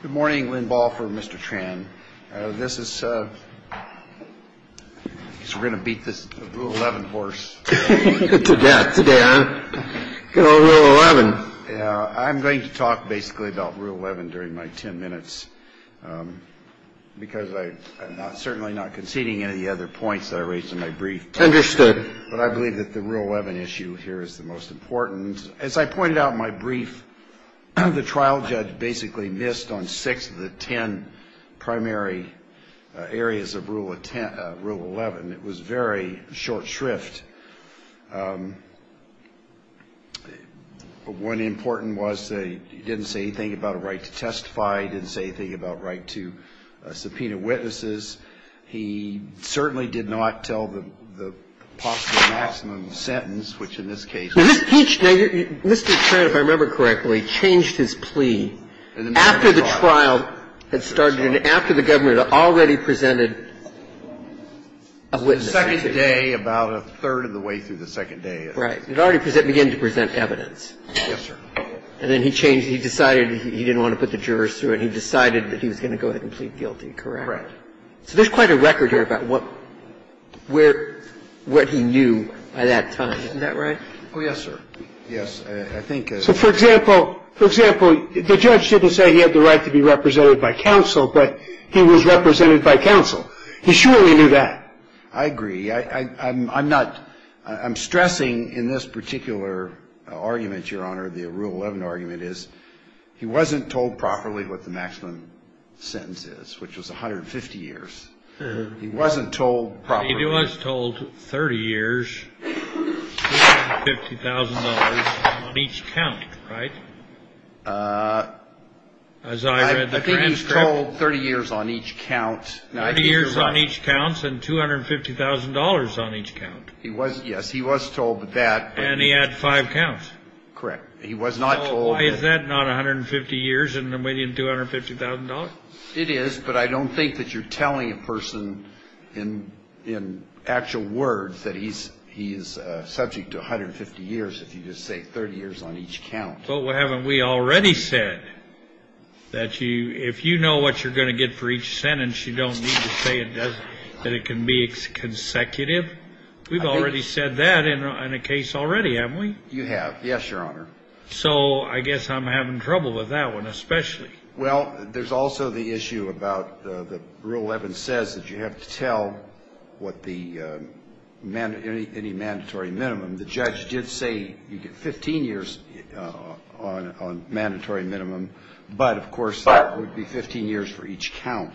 Good morning, Lynn Balfour, Mr. Tran. This is, I guess we're going to beat this Rule 11 horse. Today, huh? Good old Rule 11. I'm going to talk basically about Rule 11 during my ten minutes because I'm certainly not conceding any of the other points that I raised in my brief. Understood. But I believe that the Rule 11 issue here is the most important. As I pointed out in my brief, the trial judge basically missed on six of the ten primary areas of Rule 11. It was very short shrift. One important was he didn't say anything about a right to testify. He didn't say anything about a right to subpoena witnesses. He certainly did not tell the possible maximum sentence, which in this case was the minimum sentence. Mr. Tran, if I remember correctly, changed his plea after the trial had started and after the government had already presented a witness. The second day, about a third of the way through the second day. Right. It already began to present evidence. Yes, sir. And then he changed it. He decided he didn't want to put the jurors through it. He decided that he was going to go ahead and plead guilty. Correct. So there's quite a record here about what he knew by that time. Isn't that right? Oh, yes, sir. Yes. I think as a lawyer. For example, the judge didn't say he had the right to be represented by counsel, but he was represented by counsel. He surely knew that. I agree. I'm not – I'm stressing in this particular argument, Your Honor, the Rule 11 argument is he wasn't told properly what the maximum sentence is, which was 150 years. He wasn't told properly. He was told 30 years, $250,000 on each count, right? As I read the transcript. I think he was told 30 years on each count. 30 years on each count and $250,000 on each count. Yes, he was told that. And he had five counts. Correct. He was not told. So why is that not 150 years and $250,000? It is, but I don't think that you're telling a person in actual words that he's subject to 150 years if you just say 30 years on each count. Well, haven't we already said that if you know what you're going to get for each sentence, you don't need to say that it can be consecutive? We've already said that in a case already, haven't we? You have. Yes, Your Honor. So I guess I'm having trouble with that one especially. Well, there's also the issue about the Rule 11 says that you have to tell what the any mandatory minimum. The judge did say you get 15 years on mandatory minimum, but of course that would be 15 years for each count.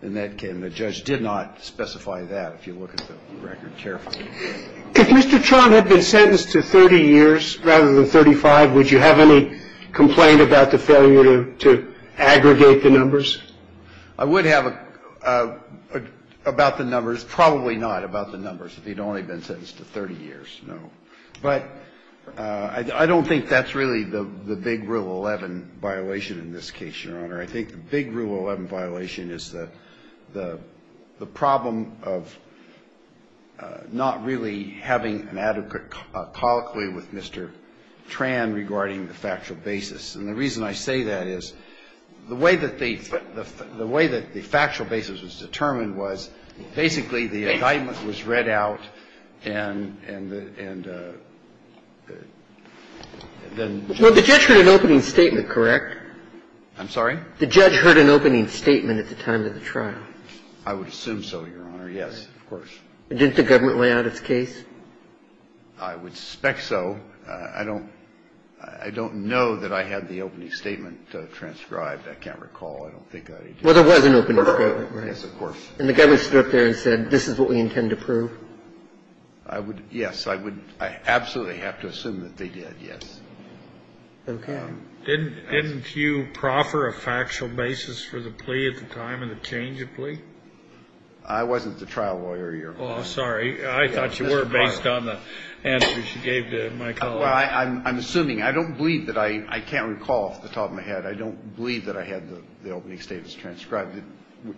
And the judge did not specify that if you look at the record carefully. If Mr. Tron had been sentenced to 30 years rather than 35, would you have any complaint about the failure to aggregate the numbers? I would have about the numbers. Probably not about the numbers if he'd only been sentenced to 30 years, no. But I don't think that's really the big Rule 11 violation in this case, Your Honor. I think the big Rule 11 violation is the problem of not really having an adequate colloquy with Mr. Tran regarding the factual basis. And the reason I say that is the way that they the way that the factual basis was determined was basically the indictment was read out and then the judge. Well, the judge read an opening statement, correct? I'm sorry? The judge heard an opening statement at the time of the trial. I would assume so, Your Honor. Yes, of course. Didn't the government lay out its case? I would suspect so. I don't know that I had the opening statement transcribed. I can't recall. I don't think I did. Well, there was an opening statement, right? Yes, of course. And the government stood up there and said, this is what we intend to prove? I would, yes. I would absolutely have to assume that they did, yes. Okay. Didn't you proffer a factual basis for the plea at the time of the change of plea? I wasn't the trial lawyer, Your Honor. Oh, sorry. I thought you were based on the answers you gave to my colleague. Well, I'm assuming. I don't believe that I can't recall off the top of my head. I don't believe that I had the opening statements transcribed.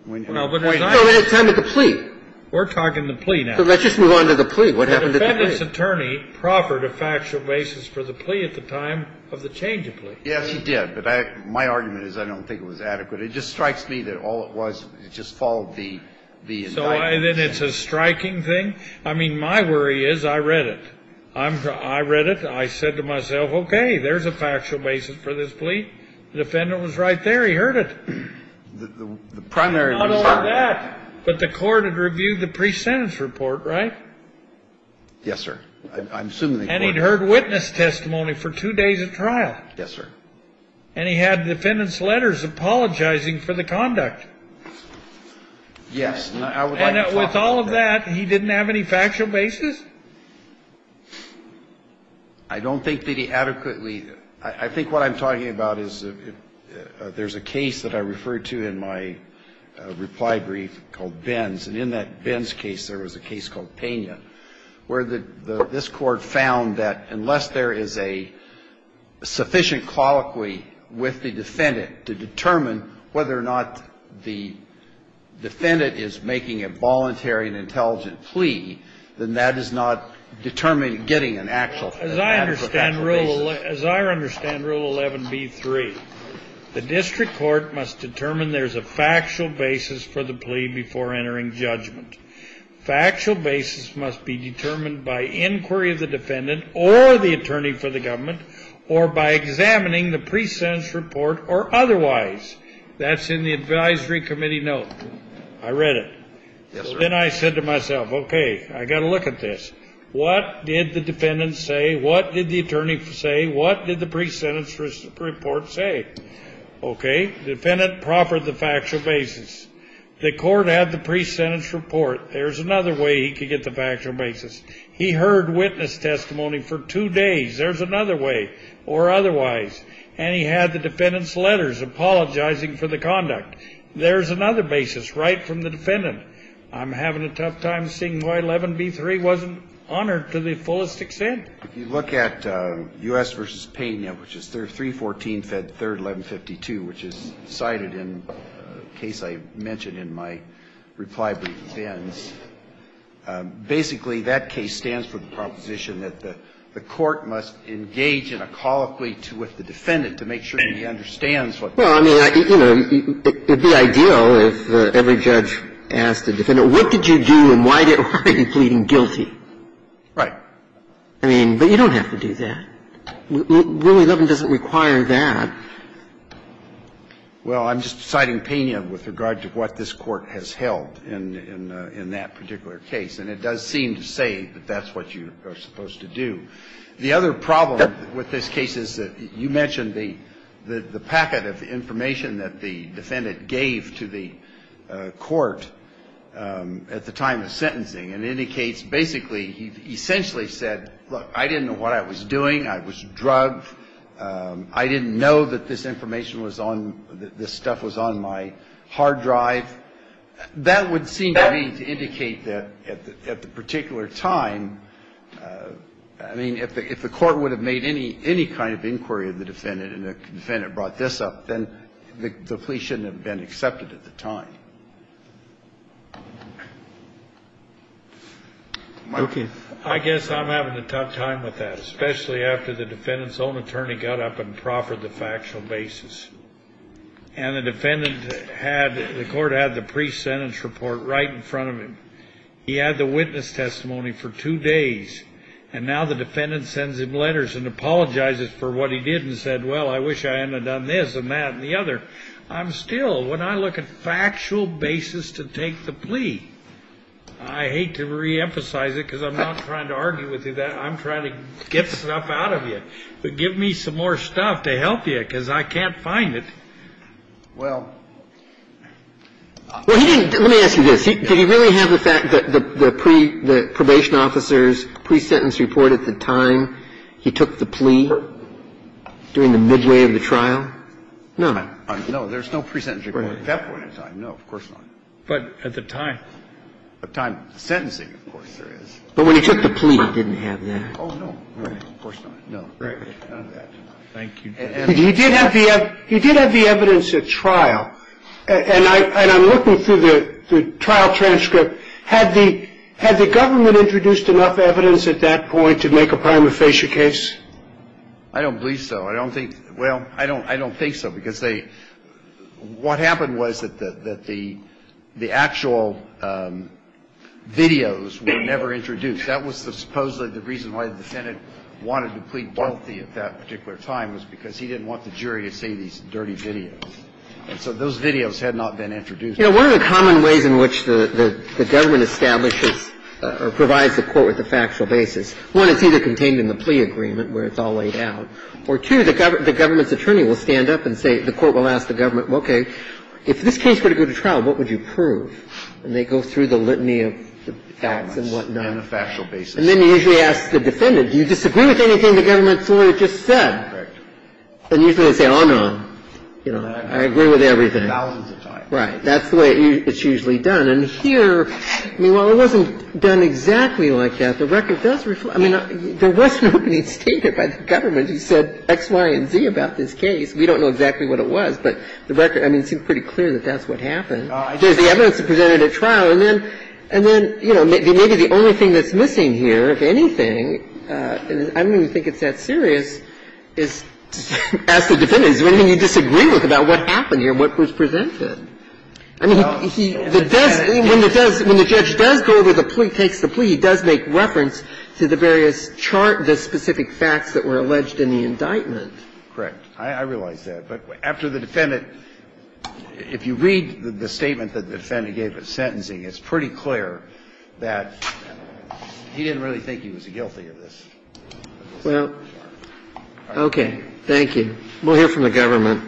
No, but as I understand it. No, at the time of the plea. We're talking the plea now. So let's just move on to the plea. What happened at the plea? The defendant's attorney proffered a factual basis for the plea at the time of the change of plea. Yes, he did. But my argument is I don't think it was adequate. It just strikes me that all it was, it just followed the indictment. So then it's a striking thing? I mean, my worry is I read it. I read it. I said to myself, okay, there's a factual basis for this plea. The defendant was right there. He heard it. The primary reason. Not only that, but the court had reviewed the pre-sentence report, right? Yes, sir. I'm assuming the court. And he'd heard witness testimony for two days of trial. Yes, sir. And he had the defendant's letters apologizing for the conduct. Yes. And with all of that, he didn't have any factual basis? I don't think that he adequately. I think what I'm talking about is there's a case that I referred to in my reply brief called Ben's. And in that Ben's case, there was a case called Pena, where this Court found that unless there is a sufficient colloquy with the defendant to determine whether or not the defendant is making a voluntary and intelligent plea, then that is not determined, getting an actual factual basis. As I understand Rule 11b-3, the district court must determine there's a factual basis for the plea before entering judgment. Factual basis must be determined by inquiry of the defendant or the attorney for the government or by examining the pre-sentence report or otherwise. That's in the advisory committee note. I read it. Yes, sir. Then I said to myself, okay, I got to look at this. What did the defendant say? What did the attorney say? What did the pre-sentence report say? Okay. The defendant proffered the factual basis. The court had the pre-sentence report. There's another way he could get the factual basis. He heard witness testimony for two days. There's another way or otherwise. And he had the defendant's letters apologizing for the conduct. There's another basis right from the defendant. I'm having a tough time seeing why 11b-3 wasn't honored to the fullest extent. If you look at U.S. v. Pena, which is 314 Fed 3rd 1152, which is cited in the case I mentioned in my reply brief to Vins, basically, that case stands for the proposition that the court must engage in a colloquy with the defendant to make sure he understands what the case is. Well, I mean, you know, it would be ideal if every judge asked the defendant, what did you do and why are you pleading guilty? Right. I mean, but you don't have to do that. Rule 11 doesn't require that. Well, I'm just citing Pena with regard to what this Court has held in that particular case, and it does seem to say that that's what you are supposed to do. The other problem with this case is that you mentioned the packet of information that the defendant gave to the court at the time of sentencing, and it indicates basically he essentially said, look, I didn't know what I was doing, I was drugged, I didn't know that this information was on, that this stuff was on my hard drive. That would seem to me to indicate that at the particular time, I mean, if the Court would have made any kind of inquiry to the defendant and the defendant brought this up, then the plea shouldn't have been accepted at the time. Okay. I guess I'm having a tough time with that, especially after the defendant's own attorney got up and proffered the factual basis. And the defendant had, the Court had the pre-sentence report right in front of him. He had the witness testimony for two days. And now the defendant sends him letters and apologizes for what he did and said, well, I wish I hadn't have done this and that and the other. I'm still, when I look at factual basis to take the plea, I hate to reemphasize it because I'm not trying to argue with you that. I'm trying to get stuff out of you. But give me some more stuff to help you because I can't find it. Well, let me ask you this. Did he really have the fact that the probation officer's pre-sentence report at the time he took the plea during the midway of the trial? No. No, there's no pre-sentence report at that point in time. No, of course not. But at the time of sentencing, of course, there is. But when he took the plea, he didn't have that. Oh, no, of course not. No. None of that. Thank you. He did have the evidence at trial. And I'm looking through the trial transcript. Had the government introduced enough evidence at that point to make a prima facie case? I don't believe so. I don't think so. Well, I don't think so because what happened was that the actual videos were never introduced. That was supposedly the reason why the defendant wanted to plead wealthy at that particular time was because he didn't want the jury to see these dirty videos. And so those videos had not been introduced. You know, one of the common ways in which the government establishes or provides the court with a factual basis, one, it's either contained in the plea agreement where it's all laid out, or, two, the government's attorney will stand up and say, the court will ask the government, okay, if this case were to go to trial, what would you prove? And they go through the litany of facts and whatnot. And that's what the government does on a factual basis. And then they usually ask the defendant, do you disagree with anything the government has said? Correct. And usually they say, oh, no, I agree with everything. Thousands of times. Right. That's the way it's usually done. And here, I mean, while it wasn't done exactly like that, the record does reflect that. I mean, there wasn't anything stated by the government. He said X, Y, and Z about this case. We don't know exactly what it was, but the record, I mean, it seems pretty clear that that's what happened. There's the evidence that presented at trial. And then, you know, maybe the only thing that's missing here, if anything, and I don't even think it's that serious, is to ask the defendant, is there anything you disagree with about what happened here and what was presented? I mean, he does, when the judge does go over the plea, takes the plea, he does make reference to the various chart, the specific facts that were alleged in the indictment. Correct. I realize that. But after the defendant, if you read the statement that the defendant gave at sentencing, it's pretty clear that he didn't really think he was guilty of this. Well, okay. Thank you. We'll hear from the government.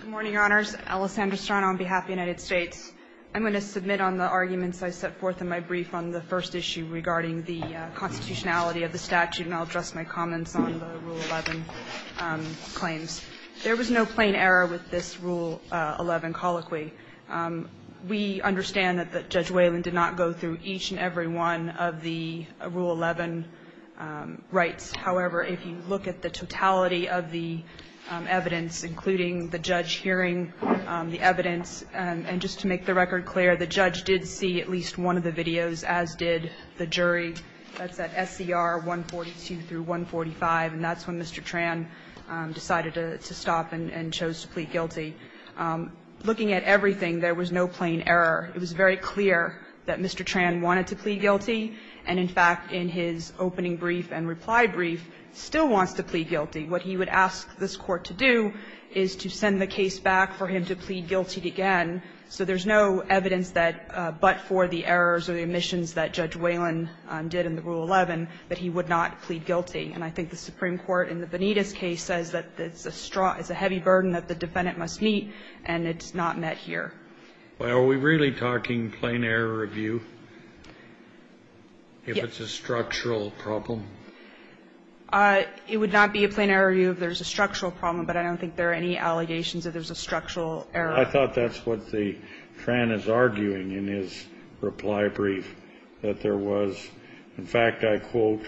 Good morning, Your Honors. Alessandra Strano on behalf of the United States. I'm going to submit on the arguments I set forth in my brief on the first issue regarding the constitutionality of the statute, and I'll address my comments on the Rule 11 claims. There was no plain error with this Rule 11 colloquy. We understand that Judge Whalen did not go through each and every one of the Rule 11 rights. However, if you look at the totality of the evidence, including the judge hearing the evidence, and just to make the record clear, the judge did see at least one of the videos, as did the jury. That's at SCR 142 through 145, and that's when Mr. Tran decided to stop and chose to plead guilty. Looking at everything, there was no plain error. It was very clear that Mr. Tran wanted to plead guilty, and in fact, in his opening brief and reply brief, still wants to plead guilty. What he would ask this Court to do is to send the case back for him to plead guilty again, so there's no evidence that, but for the errors or the omissions that Judge Whalen did in the Rule 11, that he would not plead guilty. And I think the Supreme Court in the Benitez case says that it's a heavy burden that the defendant must meet, and it's not met here. Well, are we really talking plain error review if it's a structural problem? It would not be a plain error review if there's a structural problem, but I don't think there are any allegations that there's a structural error. I thought that's what the Tran is arguing in his reply brief, that there was, in fact, I quote,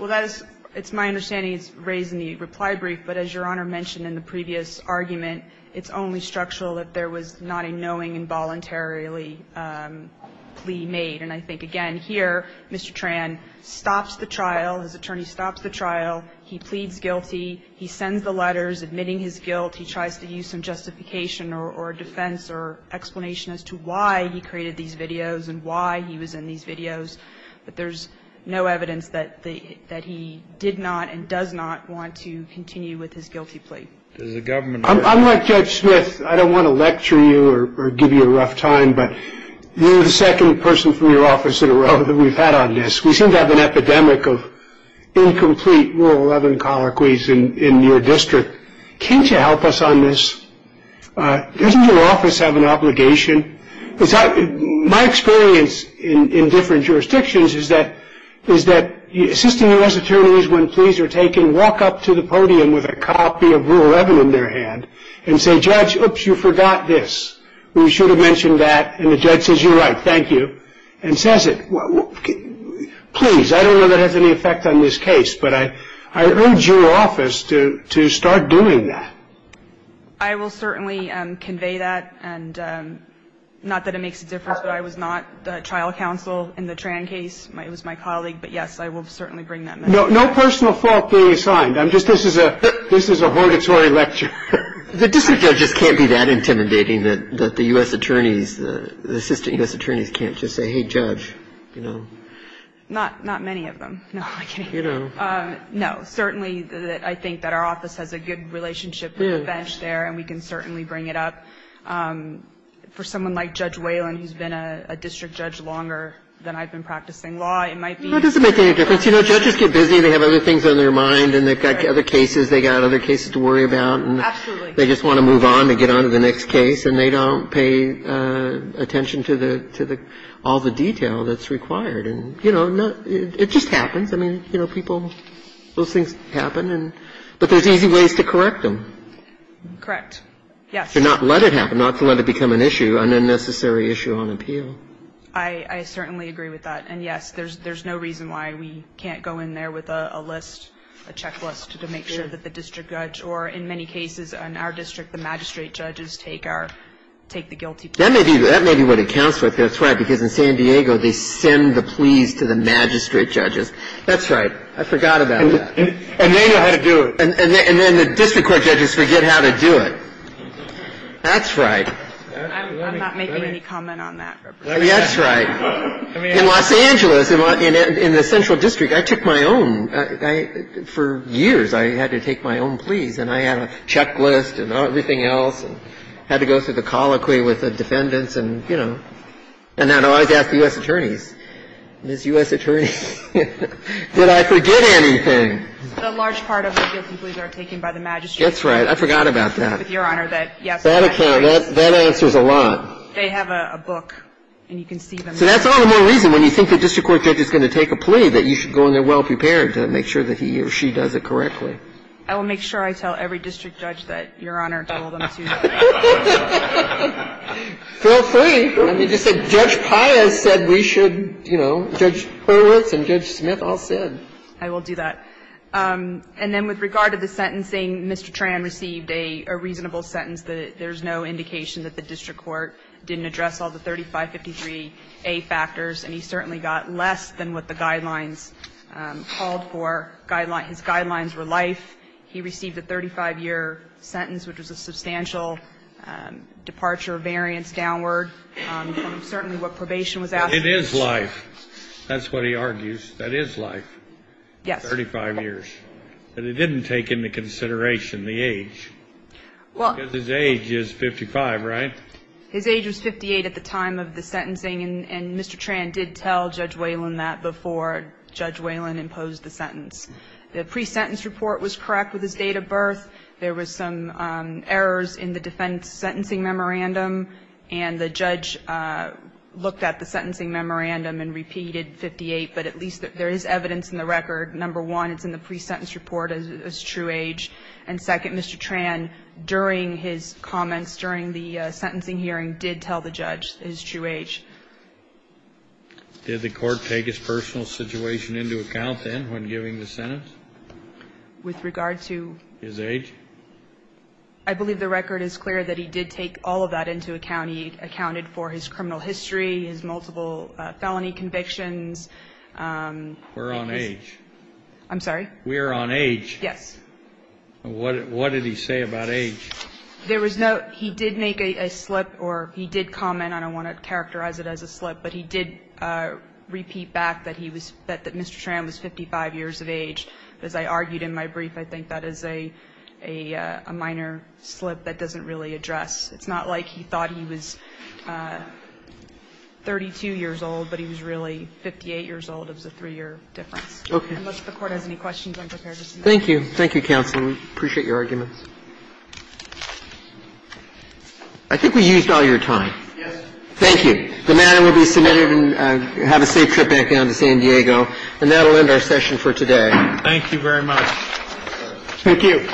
Well, that is, it's my understanding he's raising the reply brief, but as Your Honor mentioned in the previous argument, it's only structural that there was not a knowing and voluntarily plea made. And I think, again, here, Mr. Tran stops the trial, his attorney stops the trial, he pleads guilty, he sends the letters admitting his guilt, he tries to use some justification or defense or explanation as to why he created these videos and why he was in these videos, but there's no evidence that he did not and does not want to continue with his guilty plea. I'm like Judge Smith. I don't want to lecture you or give you a rough time, but you're the second person from your office in a row that we've had on this. We seem to have an epidemic of incomplete Rule 11 colloquies in your district. Can't you help us on this? Doesn't your office have an obligation? My experience in different jurisdictions is that assisting U.S. attorneys when pleas are taken walk up to the podium with a copy of Rule 11 in their hand and say, Judge, oops, you forgot this. We should have mentioned that. And the judge says, you're right, thank you, and says it. Please, I don't know if that has any effect on this case, but I urge your office to start doing that. I will certainly convey that. And not that it makes a difference, but I was not the trial counsel in the Tran case. It was my colleague. But, yes, I will certainly bring that up. No personal fault being assigned. I'm just this is a hortatory lecture. The district judges can't be that intimidating that the U.S. attorneys, the assistant U.S. attorneys can't just say, hey, Judge, you know. Not many of them. No, I'm kidding. You know. No, certainly I think that our office has a good relationship with the bench there and we can certainly bring it up. For someone like Judge Whalen, who's been a district judge longer than I've been practicing law, it might be. No, it doesn't make any difference. You know, judges get busy. They have other things on their mind and they've got other cases. They've got other cases to worry about. Absolutely. They just want to move on and get on to the next case, and they don't pay attention to the all the detail that's required. And, you know, it just happens. I mean, you know, people, those things happen. But there's easy ways to correct them. Correct. Yes. To not let it happen, not to let it become an issue, an unnecessary issue on appeal. I certainly agree with that. And, yes, there's no reason why we can't go in there with a list, a checklist to make sure that the district judge or, in many cases in our district, the magistrate judges take our, take the guilty plea. That may be what it counts with. That's right. I'm not making any comment on that. That's right. In Los Angeles, in the central district, I took my own. For years, I had to take my own pleas. And I had a checklist and everything else and had to go through the colloquy For years, I had to take my own pleas. And I always ask the U.S. attorneys, Ms. U.S. attorney, did I forget anything? A large part of the guilty pleas are taken by the magistrate. That's right. I forgot about that. Your Honor, that, yes. That account, that answers a lot. They have a book, and you can see them. So that's all the more reason, when you think the district court judge is going to take a plea, that you should go in there well-prepared to make sure that he or she does it correctly. I will make sure I tell every district judge that Your Honor told them to. Feel free. Judge Pius said we should, you know, Judge Hurwitz and Judge Smith all said. I will do that. And then with regard to the sentencing, Mr. Tran received a reasonable sentence that there's no indication that the district court didn't address all the 3553A factors, and he certainly got less than what the guidelines called for. His guidelines were life. He received a 35-year sentence, which was a substantial departure variance downward from certainly what probation was asking for. It is life. That's what he argues. That is life. Yes. 35 years. But he didn't take into consideration the age, because his age is 55, right? His age was 58 at the time of the sentencing, and Mr. Tran did tell Judge Whalen that before Judge Whalen imposed the sentence. The pre-sentence report was correct with his date of birth. There was some errors in the defense sentencing memorandum, and the judge looked at the sentencing memorandum and repeated 58, but at least there is evidence in the record. Number one, it's in the pre-sentence report as true age. And second, Mr. Tran, during his comments, during the sentencing hearing, did tell the judge his true age. Did the court take his personal situation into account then when giving the sentence? With regard to? His age. I believe the record is clear that he did take all of that into account. He accounted for his criminal history, his multiple felony convictions. We're on age. I'm sorry? We are on age. Yes. What did he say about age? There was no he did make a slip or he did comment. I don't want to characterize it as a slip, but he did repeat back that he was that Mr. Tran was 55 years of age. As I argued in my brief, I think that is a minor slip that doesn't really address. It's not like he thought he was 32 years old, but he was really 58 years old. It was a three-year difference. Okay. Unless the Court has any questions, I'm prepared to see them. Thank you. Thank you, counsel. We appreciate your arguments. I think we used all your time. Thank you. The matter will be submitted and have a safe trip back down to San Diego. And that will end our session for today. Thank you very much. Thank you.